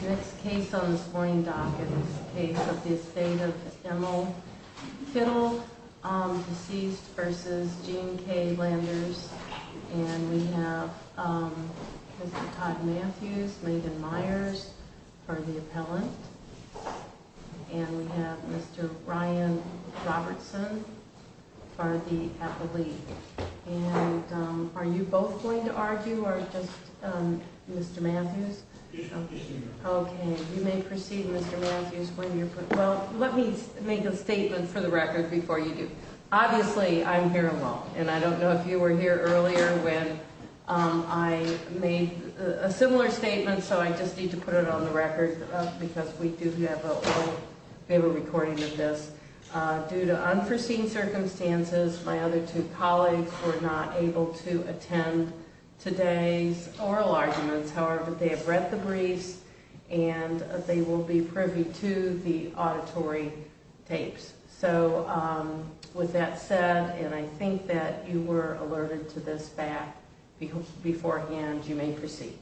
The next case on this morning docket is the case of the estate of Finnell, deceased, versus Gene K. Landers. And we have Mr. Todd Matthews, Megan Myers for the appellant. And we have Mr. Ryan Robertson for the appellee. And are you both going to argue, or just Mr. Matthews? Okay, you may proceed, Mr. Matthews. Well, let me make a statement for the record before you do. Obviously, I'm here alone, and I don't know if you were here earlier when I made a similar statement, so I just need to put it on the record because we do have a recording of this. Due to unforeseen circumstances, my other two colleagues were not able to attend today's oral arguments. However, they have read the briefs, and they will be privy to the auditory tapes. So with that said, and I think that you were alerted to this fact beforehand, you may proceed.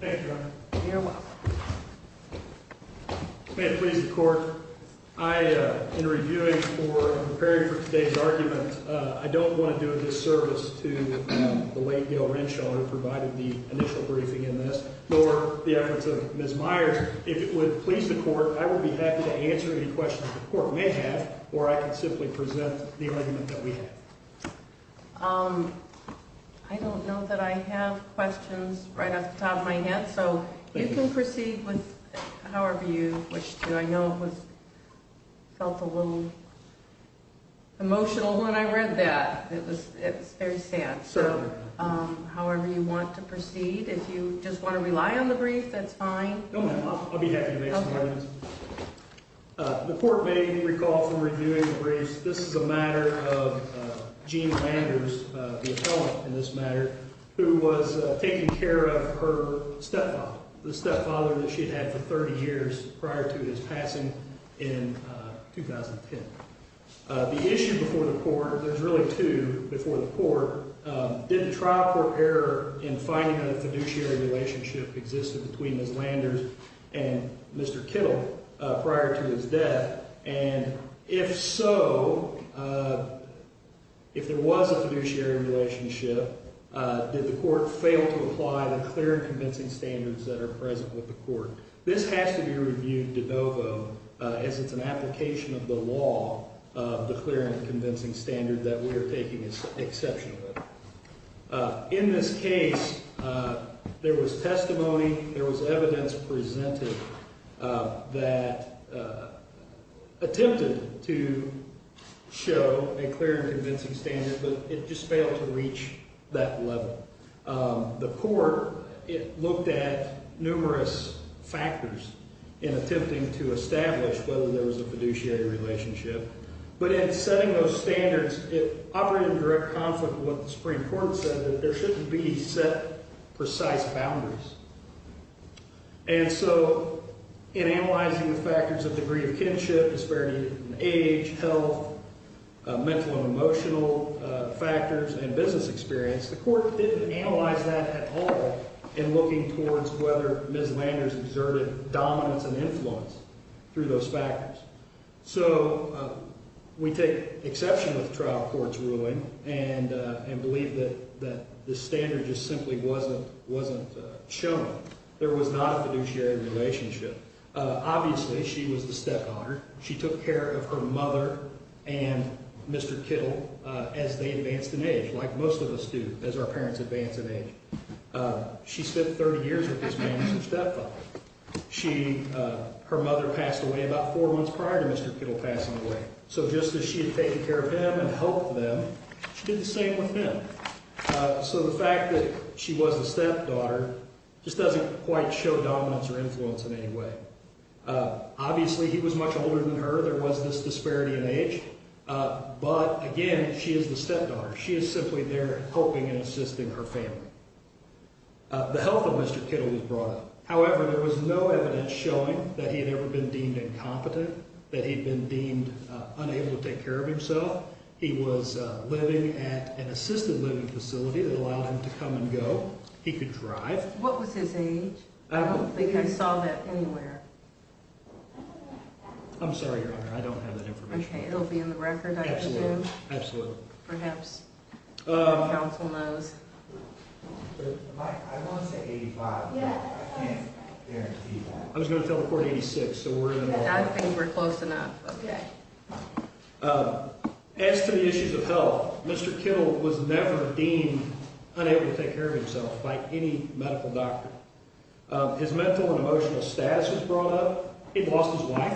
Thank you, Your Honor. You're welcome. May it please the Court? I, in reviewing or preparing for today's argument, I don't want to do a disservice to the late Gail Renshaw, who provided the initial briefing in this, nor the efforts of Ms. Myers. If it would please the Court, I would be happy to answer any questions the Court may have, or I can simply present the argument that we have. I don't know that I have questions right off the top of my head, so you can proceed with however you wish to. I know I felt a little emotional when I read that. It was very sad. Certainly. However you want to proceed, if you just want to rely on the brief, that's fine. No, I'll be happy to make some amendments. Okay. The Court may recall from reviewing the briefs, this is a matter of Jean Landers, the appellant in this matter, who was taking care of her stepfather, the stepfather that she had had for 30 years prior to his passing in 2010. The issue before the Court, and there's really two before the Court, did the trial court error in finding that a fiduciary relationship existed between Ms. Landers and Mr. Kittle prior to his death? And if so, if there was a fiduciary relationship, did the Court fail to apply the clear and convincing standards that are present with the Court? This has to be reviewed de novo as it's an application of the law, the clear and convincing standard that we are taking exception to. In this case, there was testimony, there was evidence presented that attempted to show a clear and convincing standard, but it just failed to reach that level. The Court looked at numerous factors in attempting to establish whether there was a fiduciary relationship. But in setting those standards, it operated in direct conflict with what the Supreme Court said, that there shouldn't be set precise boundaries. And so in analyzing the factors of degree of kinship, disparity in age, health, mental and emotional factors, and business experience, the Court didn't analyze that at all in looking towards whether Ms. Landers exerted dominance and influence through those factors. So we take exception with trial court's ruling and believe that the standard just simply wasn't shown. There was not a fiduciary relationship. Obviously, she was the stepdaughter. She took care of her mother and Mr. Kittle as they advanced in age, like most of us do as our parents advance in age. She spent 30 years with his mother as a stepfather. Her mother passed away about four months prior to Mr. Kittle passing away. So just as she had taken care of him and helped them, she did the same with him. So the fact that she was a stepdaughter just doesn't quite show dominance or influence in any way. Obviously, he was much older than her. There was this disparity in age. But again, she is the stepdaughter. She is simply there helping and assisting her family. The health of Mr. Kittle was brought up. However, there was no evidence showing that he had ever been deemed incompetent, that he had been deemed unable to take care of himself. He was living at an assisted living facility that allowed him to come and go. He could drive. What was his age? I don't think I saw that anywhere. I'm sorry, Your Honor. I don't have that information. Okay. It will be in the record, I presume? Absolutely. Perhaps the counsel knows. I want to say 85, but I can't guarantee that. I was going to tell the court 86, so we're in the wrong. I think we're close enough. Okay. As to the issues of health, Mr. Kittle was never deemed unable to take care of himself by any medical doctor. His mental and emotional status was brought up. He lost his wife,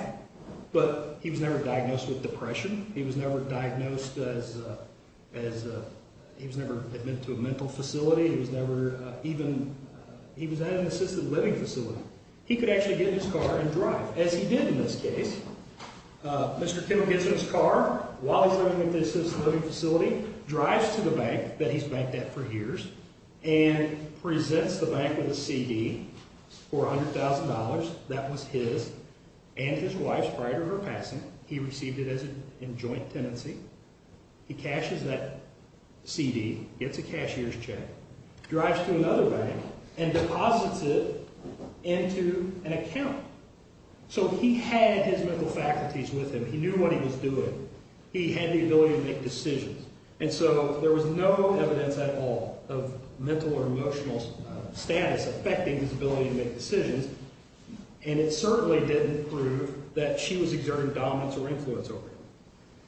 but he was never diagnosed with depression. He was never diagnosed as a – he was never admitted to a mental facility. He was never even – he was at an assisted living facility. He could actually get in his car and drive, as he did in this case. Mr. Kittle gets in his car while he's living at the assisted living facility, drives to the bank that he's banked at for years, and presents the bank with a CD for $100,000. That was his and his wife's prior to her passing. He received it in joint tenancy. He cashes that CD, gets a cashier's check, drives to another bank, and deposits it into an account. So he had his mental faculties with him. He knew what he was doing. He had the ability to make decisions. And so there was no evidence at all of mental or emotional status affecting his ability to make decisions, and it certainly didn't prove that she was exerting dominance or influence over him.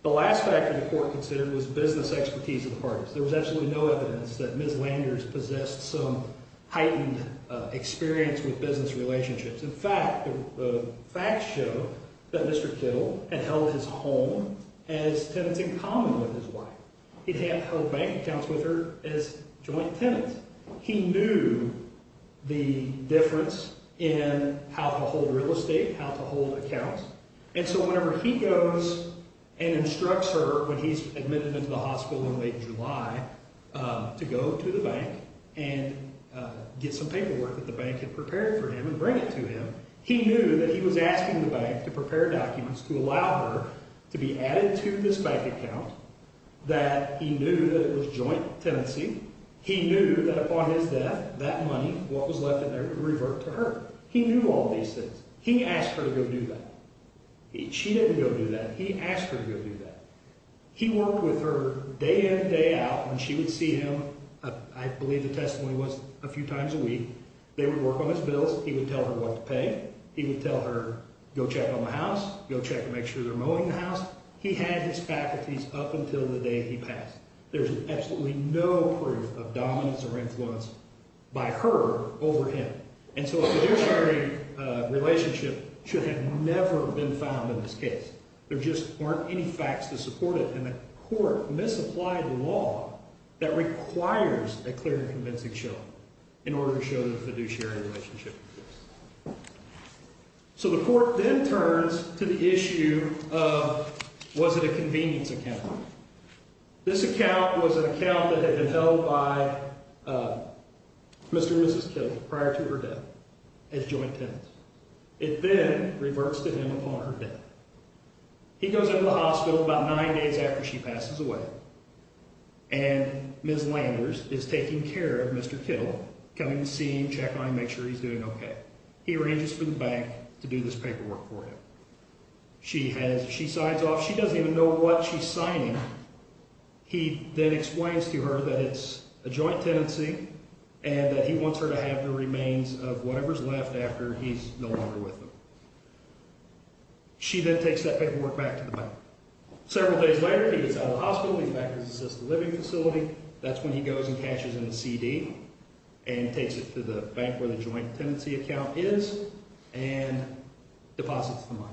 The last factor the court considered was business expertise of the parties. There was absolutely no evidence that Ms. Landers possessed some heightened experience with business relationships. In fact, the facts show that Mr. Kittle had held his home as tenants in common with his wife. He'd had her bank accounts with her as joint tenants. He knew the difference in how to hold real estate, how to hold accounts, and so whenever he goes and instructs her when he's admitted into the hospital in late July to go to the bank and get some paperwork that the bank had prepared for him and bring it to him, he knew that he was asking the bank to prepare documents to allow her to be added to this bank account, that he knew that it was joint tenancy. He knew that upon his death, that money, what was left in there, would revert to her. He knew all these things. He asked her to go do that. She didn't go do that. He asked her to go do that. He worked with her day in and day out, and she would see him, I believe the testimony was a few times a week. They would work on his bills. He would tell her what to pay. He would tell her, go check on the house. Go check to make sure they're mowing the house. He had his faculties up until the day he passed. There's absolutely no proof of dominance or influence by her over him. And so a fiduciary relationship should have never been found in this case. There just weren't any facts to support it, and the court misapplied law that requires a clear and convincing show in order to show the fiduciary relationship. So the court then turns to the issue of was it a convenience account. This account was an account that had been held by Mr. and Mrs. Kittle prior to her death as joint tenants. It then reverts to him upon her death. He goes into the hospital about nine days after she passes away, and Ms. Landers is taking care of Mr. Kittle, coming to see him, check on him, make sure he's doing okay. He arranges for the bank to do this paperwork for him. She signs off. She doesn't even know what she's signing. He then explains to her that it's a joint tenancy and that he wants her to have the remains of whatever's left after he's no longer with them. She then takes that paperwork back to the bank. Several days later, he gets out of the hospital. He's back at his assisted living facility. That's when he goes and cashes in a CD and takes it to the bank where the joint tenancy account is and deposits the money.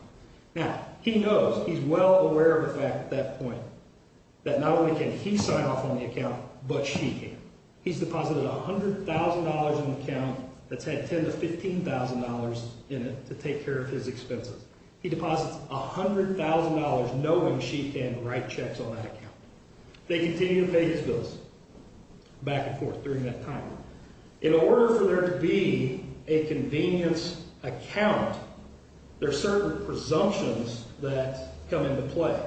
Now, he knows. He's well aware of the fact at that point that not only can he sign off on the account, but she can. He's deposited $100,000 in an account that's had $10,000 to $15,000 in it to take care of his expenses. He deposits $100,000 knowing she can write checks on that account. They continue to pay his bills back and forth during that time. In order for there to be a convenience account, there are certain presumptions that come into play.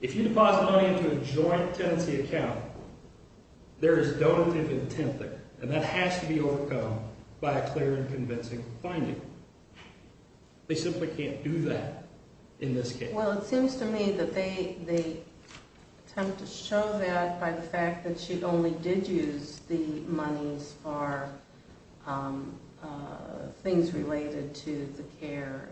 If you deposit money into a joint tenancy account, there is donative intent there, and that has to be overcome by a clear and convincing finding. They simply can't do that in this case. Well, it seems to me that they attempt to show that by the fact that she only did use the money for things related to the care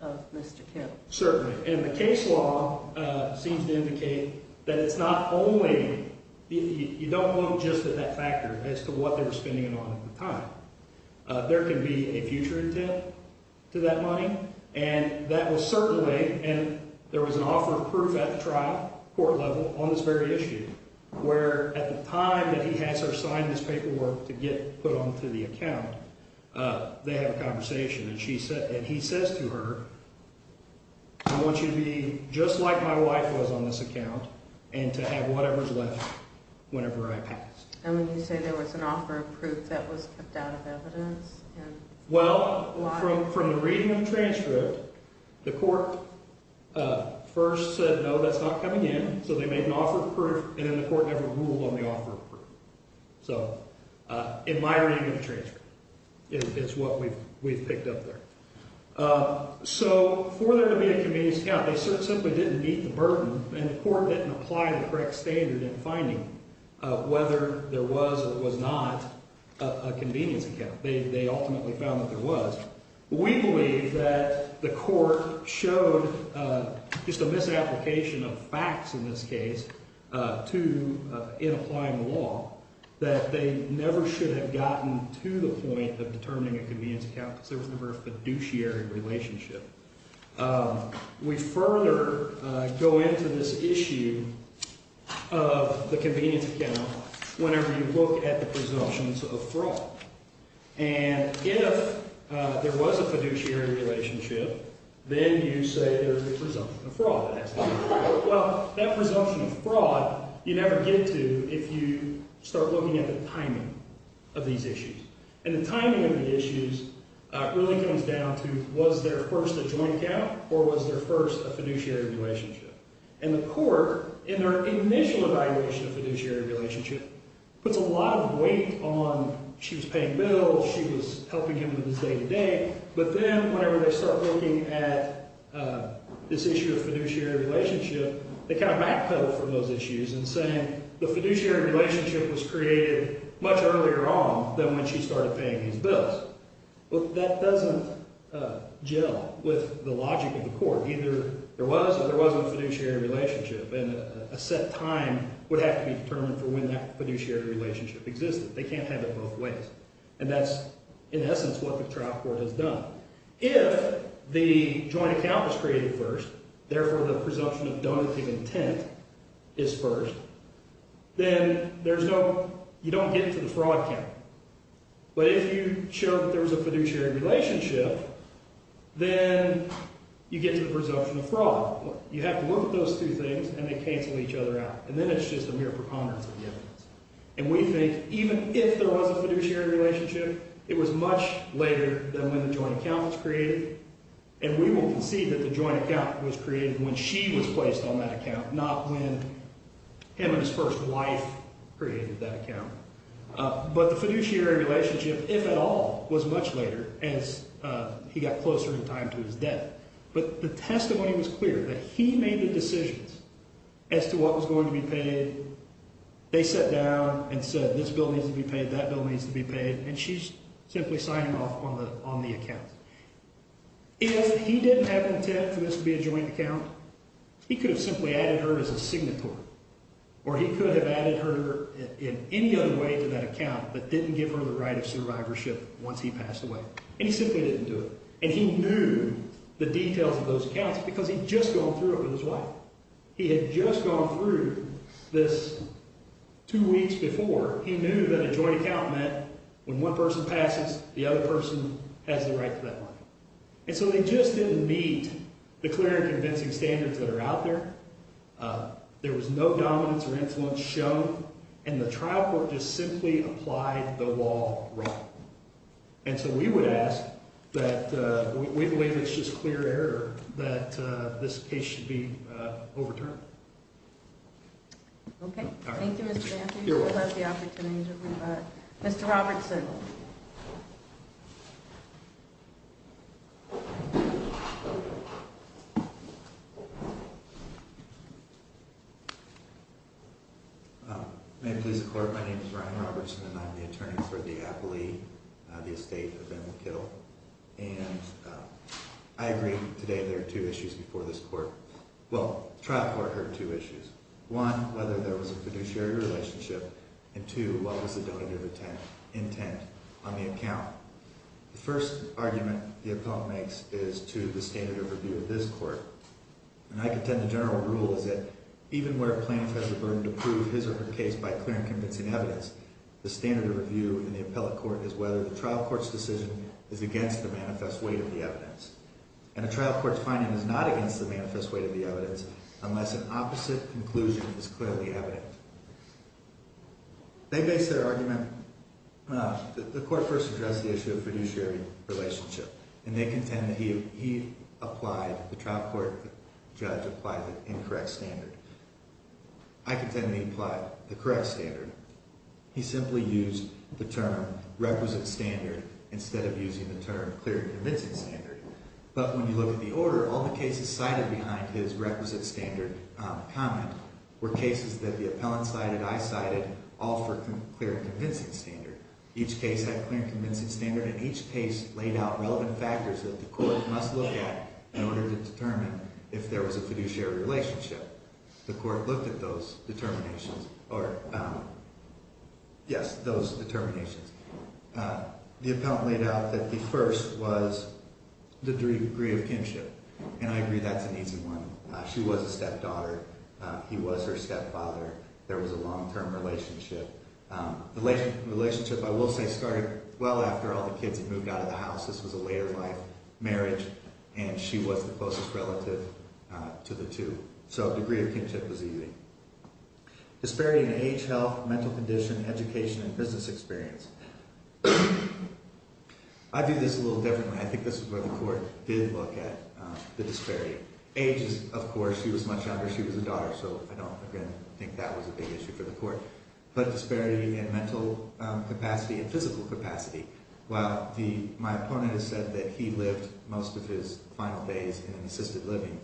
of Mr. Kidd. Certainly, and the case law seems to indicate that it's not only— you don't look just at that factor as to what they were spending it on at the time. There can be a future intent to that money, and that was certainly— and there was an offer of proof at the trial, court level, on this very issue, where at the time that he has her sign this paperwork to get put onto the account, they have a conversation, and he says to her, I want you to be just like my wife was on this account and to have whatever's left whenever I pass. And when you say there was an offer of proof, that was kept out of evidence? Well, from the reading of the transcript, the court first said, no, that's not coming in, so they made an offer of proof, and then the court never ruled on the offer of proof. So in my reading of the transcript, it's what we've picked up there. So for there to be a convenience account, they certainly simply didn't meet the burden, and the court didn't apply the correct standard in finding whether there was or was not a convenience account. They ultimately found that there was. We believe that the court showed just a misapplication of facts in this case in applying the law, that they never should have gotten to the point of determining a convenience account because there was never a fiduciary relationship. We further go into this issue of the convenience account whenever you look at the presumptions of fraud. And if there was a fiduciary relationship, then you say there's a presumption of fraud. Well, that presumption of fraud you never get to if you start looking at the timing of these issues. And the timing of the issues really comes down to was there first a joint account or was there first a fiduciary relationship? And the court, in their initial evaluation of fiduciary relationship, puts a lot of weight on she was paying bills, she was helping him with his day-to-day, but then whenever they start looking at this issue of fiduciary relationship, they kind of backpedal from those issues and say the fiduciary relationship was created much earlier on than when she started paying these bills. But that doesn't gel with the logic of the court. Either there was or there wasn't a fiduciary relationship, and a set time would have to be determined for when that fiduciary relationship existed. They can't have it both ways. And that's, in essence, what the trial court has done. If the joint account was created first, therefore the presumption of donative intent is first, then you don't get to the fraud count. But if you show that there was a fiduciary relationship, then you get to the presumption of fraud. You have to look at those two things, and they cancel each other out. And then it's just a mere preponderance of the evidence. And we think even if there was a fiduciary relationship, it was much later than when the joint account was created, and we will concede that the joint account was created when she was placed on that account, not when him and his first wife created that account. But the fiduciary relationship, if at all, was much later, as he got closer in time to his death. But the testimony was clear that he made the decisions as to what was going to be paid. They sat down and said this bill needs to be paid, that bill needs to be paid, and she's simply signing off on the account. If he didn't have intent for this to be a joint account, he could have simply added her as a signatory, or he could have added her in any other way to that account but didn't give her the right of survivorship once he passed away. And he simply didn't do it. And he knew the details of those accounts because he'd just gone through it with his wife. He had just gone through this two weeks before. He knew that a joint account meant when one person passes, the other person has the right to that money. And so they just didn't meet the clear and convincing standards that are out there. There was no dominance or influence shown, and the trial court just simply applied the law wrong. And so we would ask that we believe it's just clear error that this case should be overturned. Okay. Thank you, Mr. Matthews. I love the opportunities that we've had. Mr. Robertson. May it please the Court, my name is Ryan Robertson, and I'm the attorney for the Applee, the estate of Emma Kittle. And I agree today there are two issues before this court. Well, the trial court heard two issues. One, whether there was a fiduciary relationship. And two, what was the donor's intent on the account? The first argument the appellant makes is to the standard of review of this court. And I contend the general rule is that even where a plaintiff has the burden to prove his or her case by clear and convincing evidence, the standard of review in the appellate court is whether the trial court's decision is against the manifest weight of the evidence. And a trial court's finding is not against the manifest weight of the evidence unless an opposite conclusion is clearly evident. They base their argument, the court first addressed the issue of fiduciary relationship. And they contend that he applied, the trial court judge applied the incorrect standard. I contend that he applied the correct standard. He simply used the term requisite standard instead of using the term clear and convincing standard. But when you look at the order, all the cases cited behind his requisite standard comment were cases that the appellant cited, I cited, all for clear and convincing standard. Each case had clear and convincing standard, and each case laid out relevant factors that the court must look at in order to determine if there was a fiduciary relationship. The court looked at those determinations or, yes, those determinations. The appellant laid out that the first was the degree of kinship, and I agree that's an easy one. She was a stepdaughter. He was her stepfather. There was a long-term relationship. The relationship, I will say, started well after all the kids had moved out of the house. This was a later life marriage, and she was the closest relative to the two. So degree of kinship was easy. Disparity in age, health, mental condition, education, and business experience. I view this a little differently. I think this is where the court did look at the disparity. Age, of course, she was much younger. She was a daughter, so I don't, again, think that was a big issue for the court. But disparity in mental capacity and physical capacity. My opponent has said that he lived most of his final days in an assisted living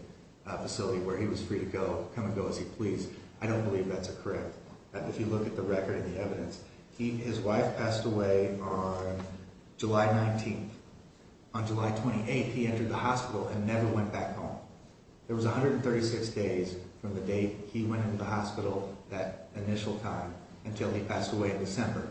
facility where he was free to come and go as he pleased. I don't believe that's correct. If you look at the record and the evidence, his wife passed away on July 19th. On July 28th, he entered the hospital and never went back home. There was 136 days from the date he went into the hospital, that initial time, until he passed away in December.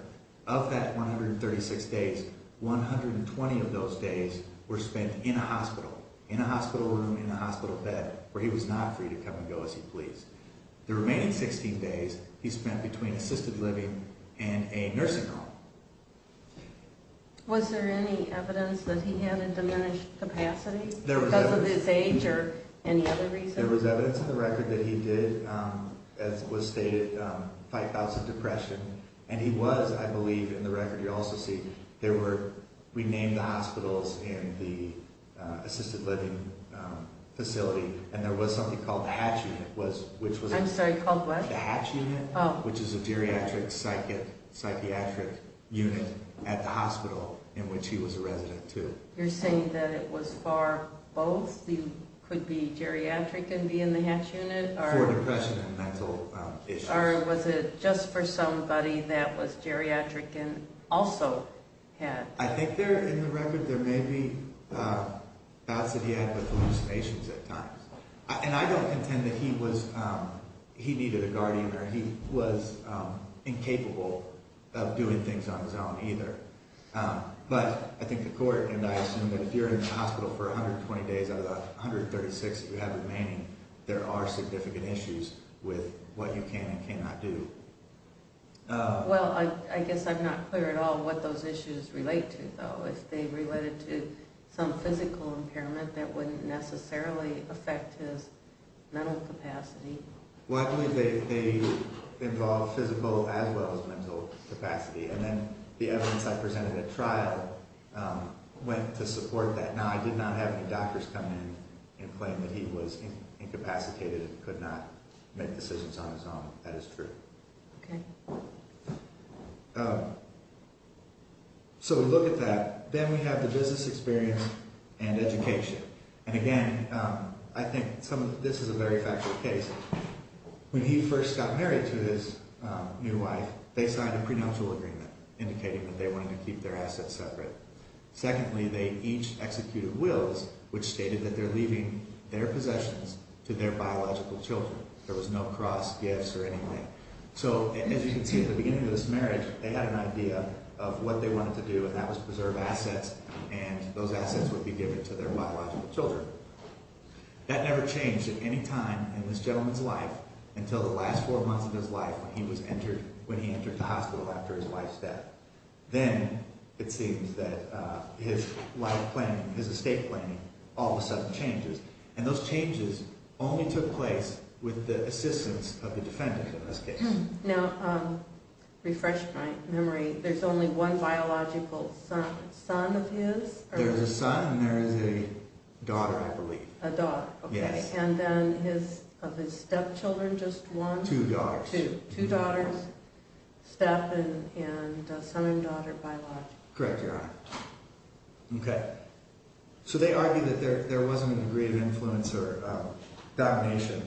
Of that 136 days, 120 of those days were spent in a hospital, in a hospital room, in a hospital bed, where he was not free to come and go as he pleased. The remaining 16 days he spent between assisted living and a nursing home. Was there any evidence that he had a diminished capacity because of his age or any other reason? There was evidence in the record that he did, as was stated, fight bouts of depression. And he was, I believe, in the record, you'll also see, there were, we named the hospitals in the assisted living facility. And there was something called the Hatch Unit, which was... I'm sorry, called what? The Hatch Unit, which is a geriatric psychiatric unit at the hospital in which he was a resident too. You're saying that it was for both? He could be geriatric and be in the Hatch Unit? For depression and mental issues. Or was it just for somebody that was geriatric and also had... I think there, in the record, there may be bouts that he had with hallucinations at times. And I don't contend that he was, he needed a guardian or he was incapable of doing things on his own either. But I think the court, and I assume that if you're in the hospital for 120 days out of the 136 you have remaining, there are significant issues with what you can and cannot do. Well, I guess I'm not clear at all what those issues relate to, though. If they related to some physical impairment, that wouldn't necessarily affect his mental capacity. Well, I believe they involve physical as well as mental capacity. And then the evidence I presented at trial went to support that. Now, I did not have any doctors come in and claim that he was incapacitated and could not make decisions on his own. That is true. Okay. So we look at that. Then we have the business experience and education. And again, I think this is a very factual case. When he first got married to his new wife, they signed a prenuptial agreement indicating that they wanted to keep their assets separate. Secondly, they each executed wills which stated that they're leaving their possessions to their biological children. There was no cross, gifts, or anything. So as you can see at the beginning of this marriage, they had an idea of what they wanted to do, and that was preserve assets and those assets would be given to their biological children. That never changed at any time in this gentleman's life until the last four months of his life when he entered the hospital after his wife's death. Then it seems that his life planning, his estate planning, all of a sudden changes. And those changes only took place with the assistance of the defendant in this case. Now, refresh my memory. There's only one biological son of his? There's a son and there's a daughter, I believe. A daughter, okay. Yes. And then of his stepchildren, just one? Two daughters. Two daughters, step and son and daughter biological. Correct, Your Honor. Okay. So they argued that there wasn't a degree of influence or domination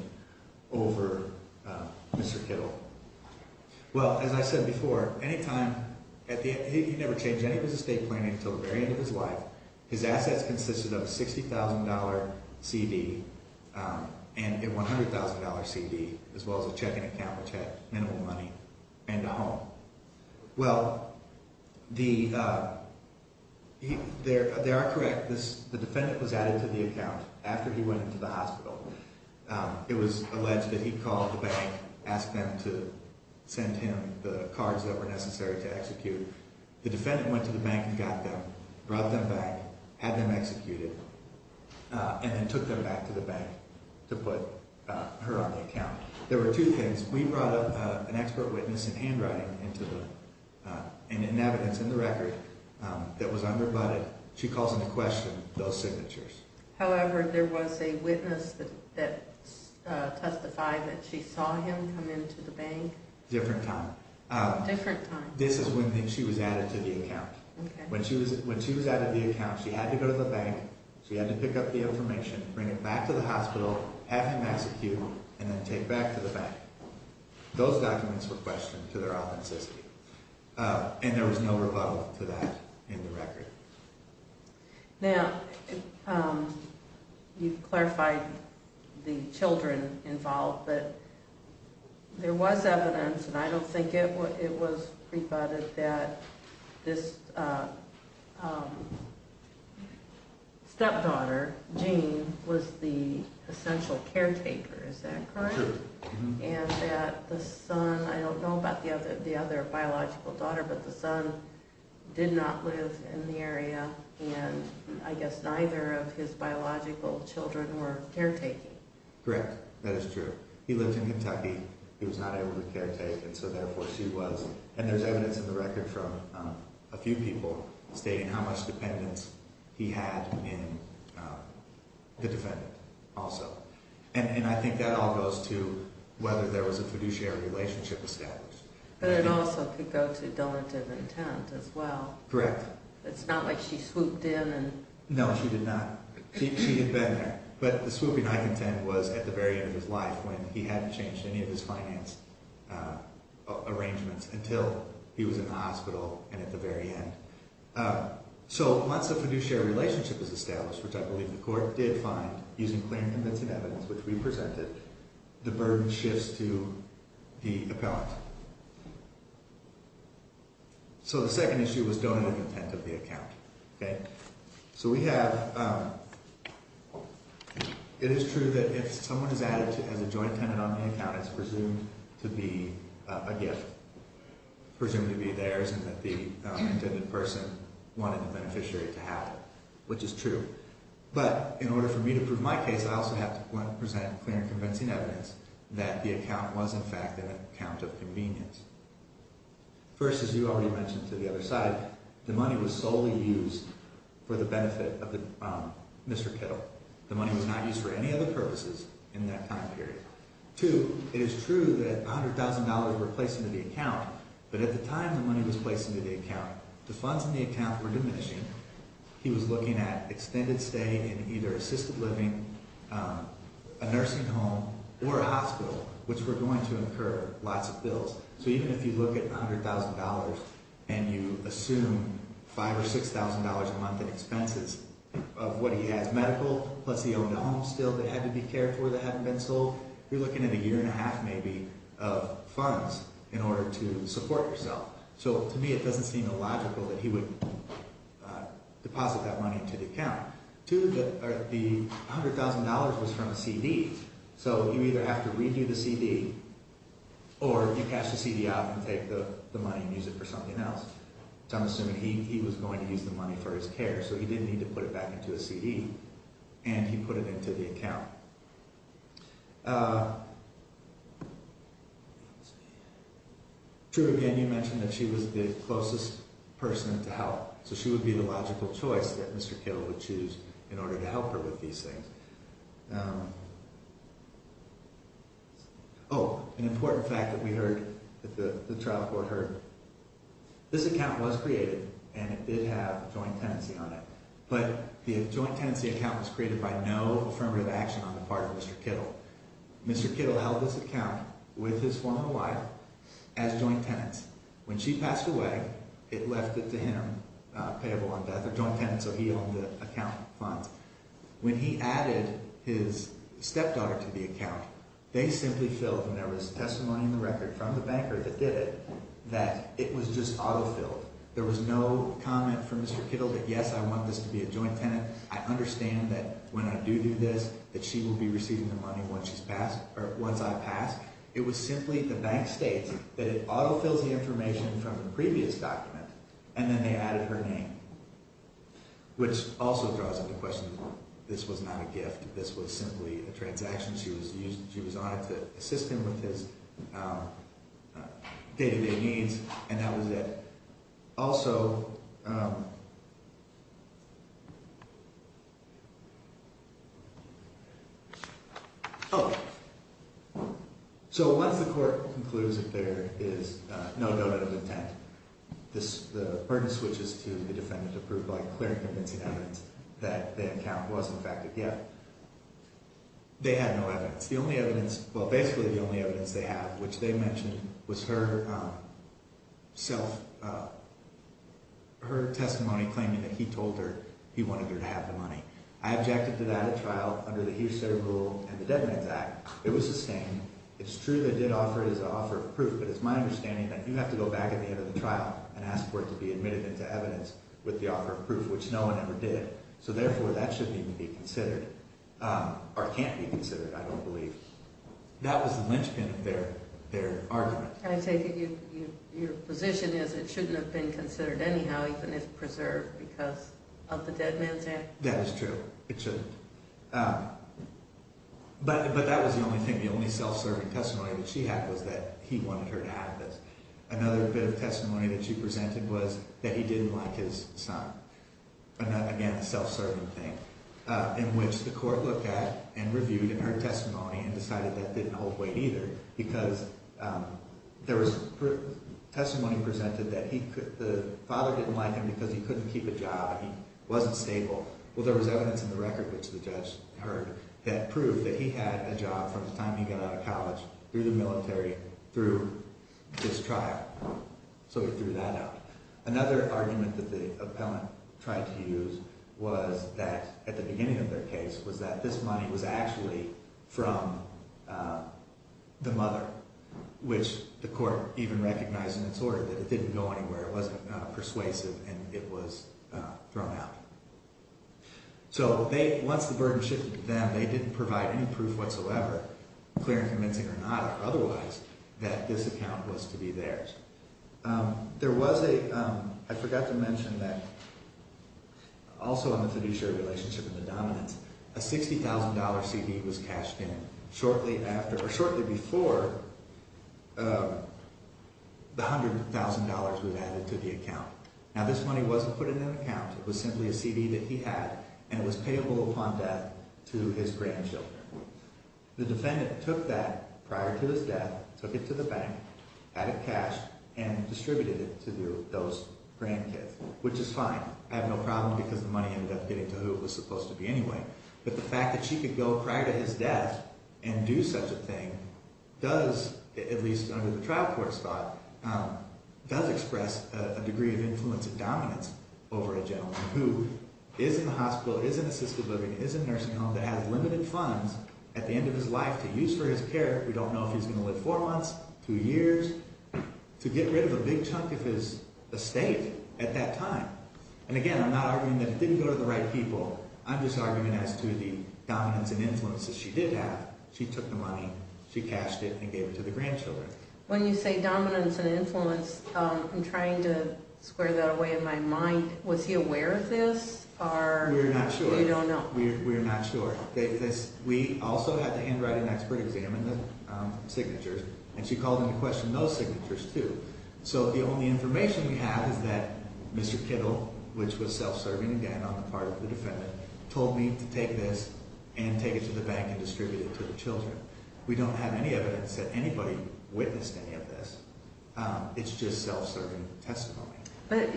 over Mr. Kittle. Well, as I said before, he never changed any of his estate planning until the very end of his life. His assets consisted of a $60,000 CD and a $100,000 CD as well as a checking account which had minimal money and a home. Well, they are correct. The defendant was added to the account after he went into the hospital. It was alleged that he called the bank, asked them to send him the cards that were necessary to execute. The defendant went to the bank and got them, brought them back, had them executed, and then took them back to the bank to put her on the account. There were two things. We brought up an expert witness in handwriting and in evidence in the record that was unrebutted. She calls into question those signatures. However, there was a witness that testified that she saw him come into the bank. Different time. Different time. This is when she was added to the account. Okay. When she was added to the account, she had to go to the bank, she had to pick up the information, bring it back to the hospital, have him executed, and then take it back to the bank. Those documents were questioned to their authenticity. And there was no rebuttal to that in the record. Now, you've clarified the children involved, but there was evidence, and I don't think it was rebutted, that this stepdaughter, Jean, was the essential caretaker. Is that correct? True. And that the son, I don't know about the other biological daughter, but the son did not live in the area, and I guess neither of his biological children were caretaking. Correct. That is true. He lived in Kentucky. He was not able to caretake, and so therefore she was. And there's evidence in the record from a few people stating how much dependence he had in the defendant also. And I think that all goes to whether there was a fiduciary relationship established. But it also could go to donative intent as well. Correct. It's not like she swooped in and... No, she did not. She had been there. But the swooping I contend was at the very end of his life when he hadn't changed any of his finance arrangements until he was in the hospital and at the very end. So once a fiduciary relationship is established, which I believe the court did find using claim-convincing evidence, which we presented, the burden shifts to the appellant. So the second issue was donative intent of the account. Okay? wanted the beneficiary to have it, which is true. But in order for me to prove my case, I also have to present claim-convincing evidence that the account was, in fact, an account of convenience. First, as you already mentioned to the other side, the money was solely used for the benefit of Mr. Kittle. The money was not used for any other purposes in that time period. Two, it is true that $100,000 were placed into the account, but at the time the money was placed into the account, the funds in the account were diminishing. He was looking at extended stay in either assisted living, a nursing home, or a hospital, which were going to incur lots of bills. So even if you look at $100,000 and you assume $5,000 or $6,000 a month in expenses of what he has medical, plus he owned a home still that had to be cared for that hadn't been sold, you're looking at a year and a half maybe of funds in order to support yourself. So to me it doesn't seem illogical that he would deposit that money into the account. Two, the $100,000 was from a CD, so you either have to redo the CD or you cash the CD out and take the money and use it for something else. So I'm assuming he was going to use the money for his care, so he didn't need to put it back into a CD and he put it into the account. True, again, you mentioned that she was the closest person to help, so she would be the logical choice that Mr. Kittle would choose in order to help her with these things. Oh, an important fact that we heard, that the trial court heard. This account was created and it did have a joint tenancy on it, but the joint tenancy account was created by no affirmative action on the part of Mr. Kittle. Mr. Kittle held this account with his former wife as joint tenants. When she passed away, it left it to him, payable on death, or joint tenants, so he owned the account funds. When he added his stepdaughter to the account, they simply filled, and there was testimony in the record from the banker that did it, that it was just auto-filled. There was no comment from Mr. Kittle that, yes, I want this to be a joint tenant, I understand that when I do do this, that she will be receiving the money once I pass. It was simply, the bank states, that it auto-fills the information from the previous document, and then they added her name, which also draws up the question, this was not a gift, this was simply a transaction. She was honored to assist him with his day-to-day needs, and that was it. Also, so once the court concludes that there is no note of intent, the burden switches to the defendant to prove by clear and convincing evidence that the account was in fact a gift. They had no evidence. The only evidence, well, basically the only evidence they have, which they mentioned, was her testimony claiming that he told her he wanted her to have the money. I objected to that at trial under the Hearsay Rule and the Dead Man's Act. It was the same. It's true they did offer it as an offer of proof, but it's my understanding that you have to go back at the end of the trial and ask for it to be admitted into evidence with the offer of proof, which no one ever did. So therefore, that shouldn't even be considered, or can't be considered, I don't believe. That was the linchpin of their argument. I take it your position is it shouldn't have been considered anyhow, even if preserved, because of the Dead Man's Act? That is true. It shouldn't. But that was the only thing, the only self-serving testimony that she had was that he wanted her to have this. Another bit of testimony that she presented was that he didn't like his son, again, a self-serving thing, in which the court looked at and reviewed her testimony and decided that didn't hold weight either, because there was testimony presented that the father didn't like him because he couldn't keep a job and he wasn't stable. Well, there was evidence in the record, which the judge heard, that proved that he had a job from the time he got out of college, through the military, through this trial. So he threw that out. Another argument that the appellant tried to use was that, at the beginning of their case, was that this money was actually from the mother, which the court even recognized in its order that it didn't go anywhere, it wasn't persuasive, and it was thrown out. So once the burden shifted to them, they didn't provide any proof whatsoever, clear and convincing or not or otherwise, that this account was to be theirs. There was a – I forgot to mention that also in the fiduciary relationship in the dominance, a $60,000 CD was cashed in shortly after – or shortly before the $100,000 was added to the account. Now, this money wasn't put into an account. It was simply a CD that he had, and it was payable upon death to his grandchildren. The defendant took that prior to his death, took it to the bank, added cash, and distributed it to those grandkids, which is fine. I have no problem because the money ended up getting to who it was supposed to be anyway. But the fact that she could go prior to his death and do such a thing does, at least under the trial court's thought, does express a degree of influence and dominance over a gentleman who is in the hospital, is in assisted living, is in a nursing home that has limited funds at the end of his life to use for his care. We don't know if he's going to live four months, two years, to get rid of a big chunk of his estate at that time. And again, I'm not arguing that it didn't go to the right people. I'm just arguing as to the dominance and influence that she did have. She took the money. She cashed it and gave it to the grandchildren. When you say dominance and influence, I'm trying to square that away in my mind. Was he aware of this or – We're not sure. We don't know. We're not sure. We also had to handwrite an expert exam in the signatures, and she called into question those signatures too. So the only information we have is that Mr. Kittle, which was self-serving again on the part of the defendant, told me to take this and take it to the bank and distribute it to the children. We don't have any evidence that anybody witnessed any of this. It's just self-serving testimony. But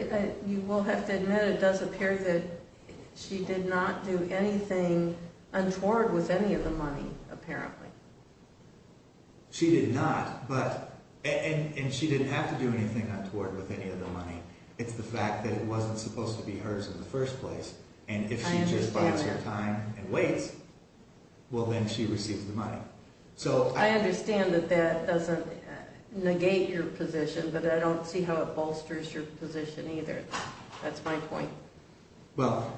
you will have to admit it does appear that she did not do anything untoward with any of the money apparently. She did not, but – and she didn't have to do anything untoward with any of the money. It's the fact that it wasn't supposed to be hers in the first place, and if she just bides her time and waits, well, then she receives the money. I understand that that doesn't negate your position, but I don't see how it bolsters your position either. That's my point. Well,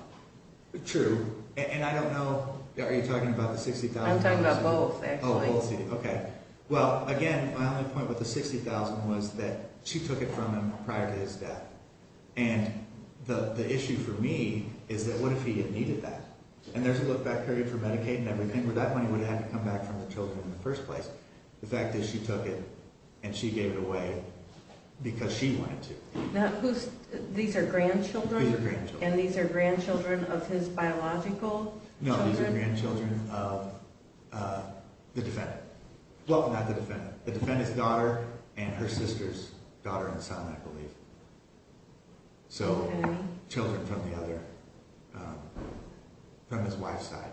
true. And I don't know – are you talking about the $60,000? I'm talking about both, actually. Oh, both. Okay. Well, again, my only point with the $60,000 was that she took it from him prior to his death. And the issue for me is that what if he had needed that? And there's a look back period for Medicaid and everything where that money would have had to come back from the children in the first place. The fact is she took it, and she gave it away because she wanted to. Now, who's – these are grandchildren? These are grandchildren. And these are grandchildren of his biological children? No, these are grandchildren of the defendant. Well, not the defendant. The defendant's daughter and her sister's daughter-in-law, I believe. So children from the other – from his wife's side.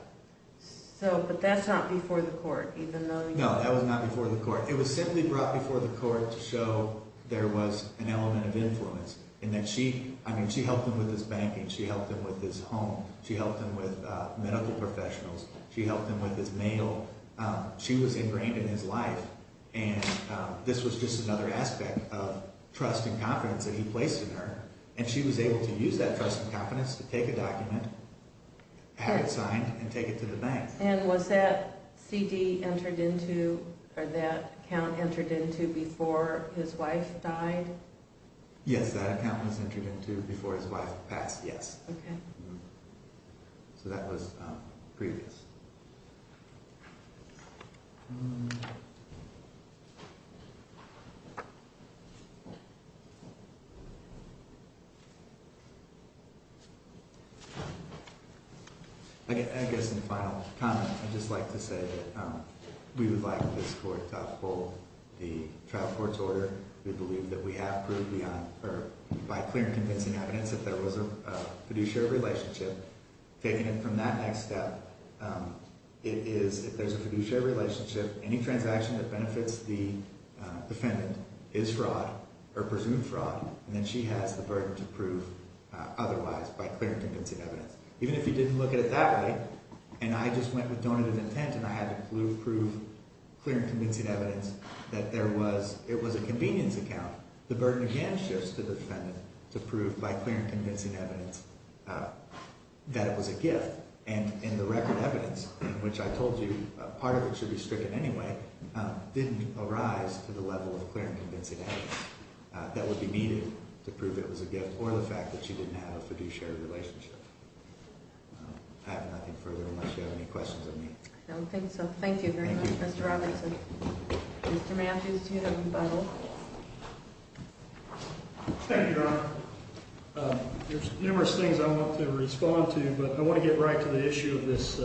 So – but that's not before the court, even though you – No, that was not before the court. It was simply brought before the court to show there was an element of influence and that she – I mean, she helped him with his banking. She helped him with his home. She helped him with medical professionals. She helped him with his mail. She was ingrained in his life, and this was just another aspect of trust and confidence that he placed in her. And she was able to use that trust and confidence to take a document, have it signed, and take it to the bank. And was that CD entered into – or that account entered into before his wife died? Yes, that account was entered into before his wife passed, yes. Okay. So that was previous. I guess in the final comment, I'd just like to say that we would like this court to uphold the trial court's order. We believe that we have proved beyond – or by clear and convincing evidence that there was a fiduciary relationship. Taking it from that next step, it is – if there's a fiduciary relationship, any transaction that benefits the defendant is fraud or presumed fraud. And then she has the burden to prove otherwise by clear and convincing evidence. Even if you didn't look at it that way and I just went with donated intent and I had to prove clear and convincing evidence that there was – it was a convenience account, the burden again shifts to the defendant to prove by clear and convincing evidence that it was a gift. And in the record evidence, which I told you part of it should be stricken anyway, didn't arise to the level of clear and convincing evidence that would be needed to prove it was a gift or the fact that she didn't have a fiduciary relationship. I have nothing further unless you have any questions of me. I don't think so. Thank you very much, Mr. Robertson. Mr. Matthews, you have the Bible. Thank you, Your Honor. There's numerous things I want to respond to, but I want to get right to the issue of this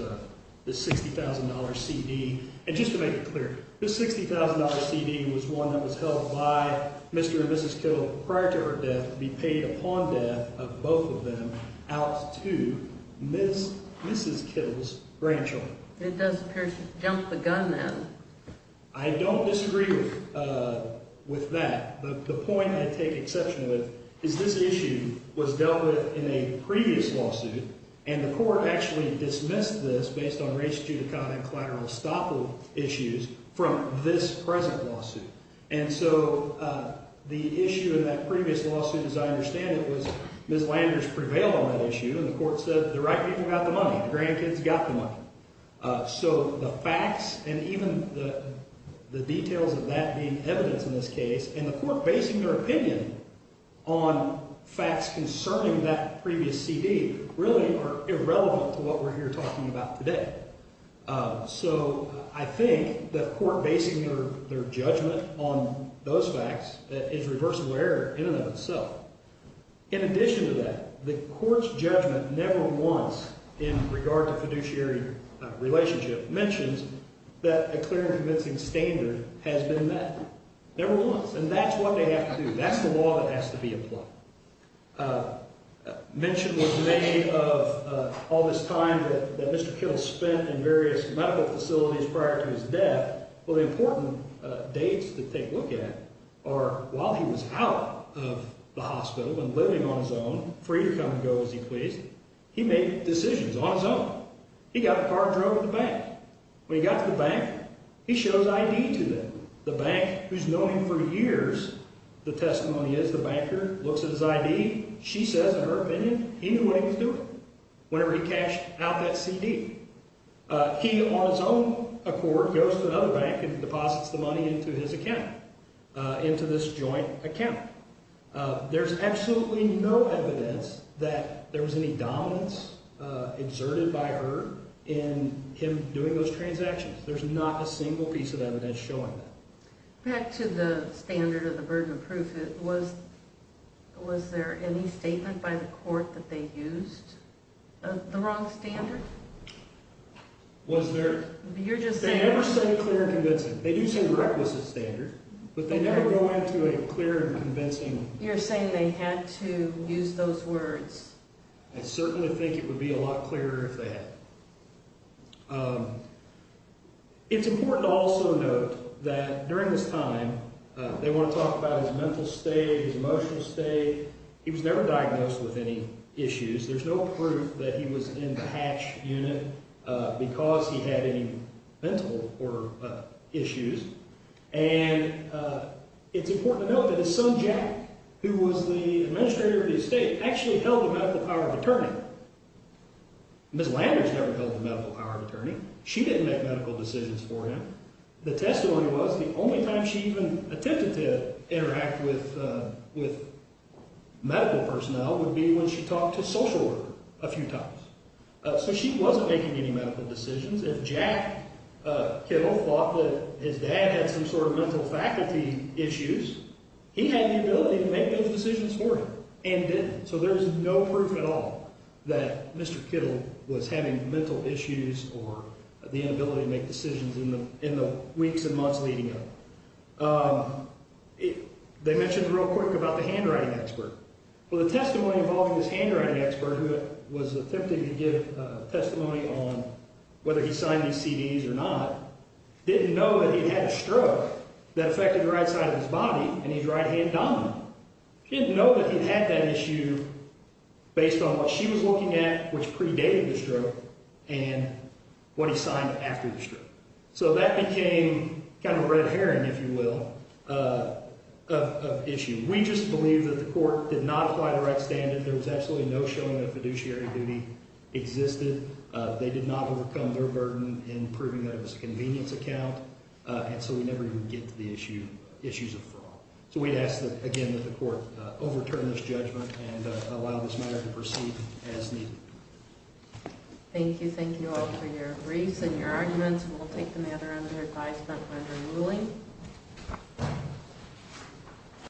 $60,000 CD. And just to make it clear, this $60,000 CD was one that was held by Mr. and Mrs. Kittle prior to her death to be paid upon death of both of them out to Mrs. Kittle's grandchildren. It does appear she jumped the gun then. I don't disagree with that. The point I take exception to is this issue was dealt with in a previous lawsuit, and the court actually dismissed this based on race, judicata, and collateral estoppel issues from this present lawsuit. And so the issue in that previous lawsuit, as I understand it, was Ms. Landers prevailed on that issue, and the court said the right people got the money, the grandkids got the money. So the facts and even the details of that being evidence in this case and the court basing their opinion on facts concerning that previous CD really are irrelevant to what we're here talking about today. So I think that court basing their judgment on those facts is reversible error in and of itself. In addition to that, the court's judgment never once in regard to fiduciary relationship mentions that a clear and convincing standard has been met. Never once, and that's what they have to do. That's the law that has to be applied. Mention was made of all this time that Mr. Kittle spent in various medical facilities prior to his death. Well, the important dates to take a look at are while he was out of the hospital and living on his own, free to come and go as he pleased, he made decisions on his own. He got in a car and drove to the bank. When he got to the bank, he shows ID to them. The bank, who's known him for years, the testimony is the banker looks at his ID. She says in her opinion he knew what he was doing whenever he cashed out that CD. He, on his own accord, goes to another bank and deposits the money into his account, into this joint account. There's absolutely no evidence that there was any dominance exerted by her in him doing those transactions. There's not a single piece of evidence showing that. Back to the standard of the burden of proof, was there any statement by the court that they used the wrong standard? Was there? You're just saying. They never say clear and convincing. They do say the requisite standard, but they never go into a clear and convincing. You're saying they had to use those words. I certainly think it would be a lot clearer if they had. It's important to also note that during this time, they want to talk about his mental state, his emotional state. He was never diagnosed with any issues. There's no proof that he was in the hatch unit because he had any mental issues. And it's important to note that his son, Jack, who was the administrator of the estate, actually held the medical power of attorney. Ms. Landers never held the medical power of attorney. She didn't make medical decisions for him. The testimony was the only time she even attempted to interact with medical personnel would be when she talked to social worker a few times. So she wasn't making any medical decisions. If Jack Kittle thought that his dad had some sort of mental faculty issues, he had the ability to make those decisions for him and didn't. So there's no proof at all that Mr. Kittle was having mental issues or the inability to make decisions in the weeks and months leading up. They mentioned real quick about the handwriting expert. Well, the testimony involving this handwriting expert, who was attempting to give testimony on whether he signed these CDs or not, didn't know that he had a stroke that affected the right side of his body and he's right-hand dominant. She didn't know that he had that issue based on what she was looking at, which predated the stroke, and what he signed after the stroke. So that became kind of a red herring, if you will, of issue. We just believe that the court did not apply the right standard. There was absolutely no showing that fiduciary duty existed. They did not overcome their burden in proving that it was a convenience account. And so we never even get to the issues of fraud. So we'd ask, again, that the court overturn this judgment and allow this matter to proceed as needed. Thank you. Thank you all for your briefs and your arguments. We'll take the matter under advisement under ruling.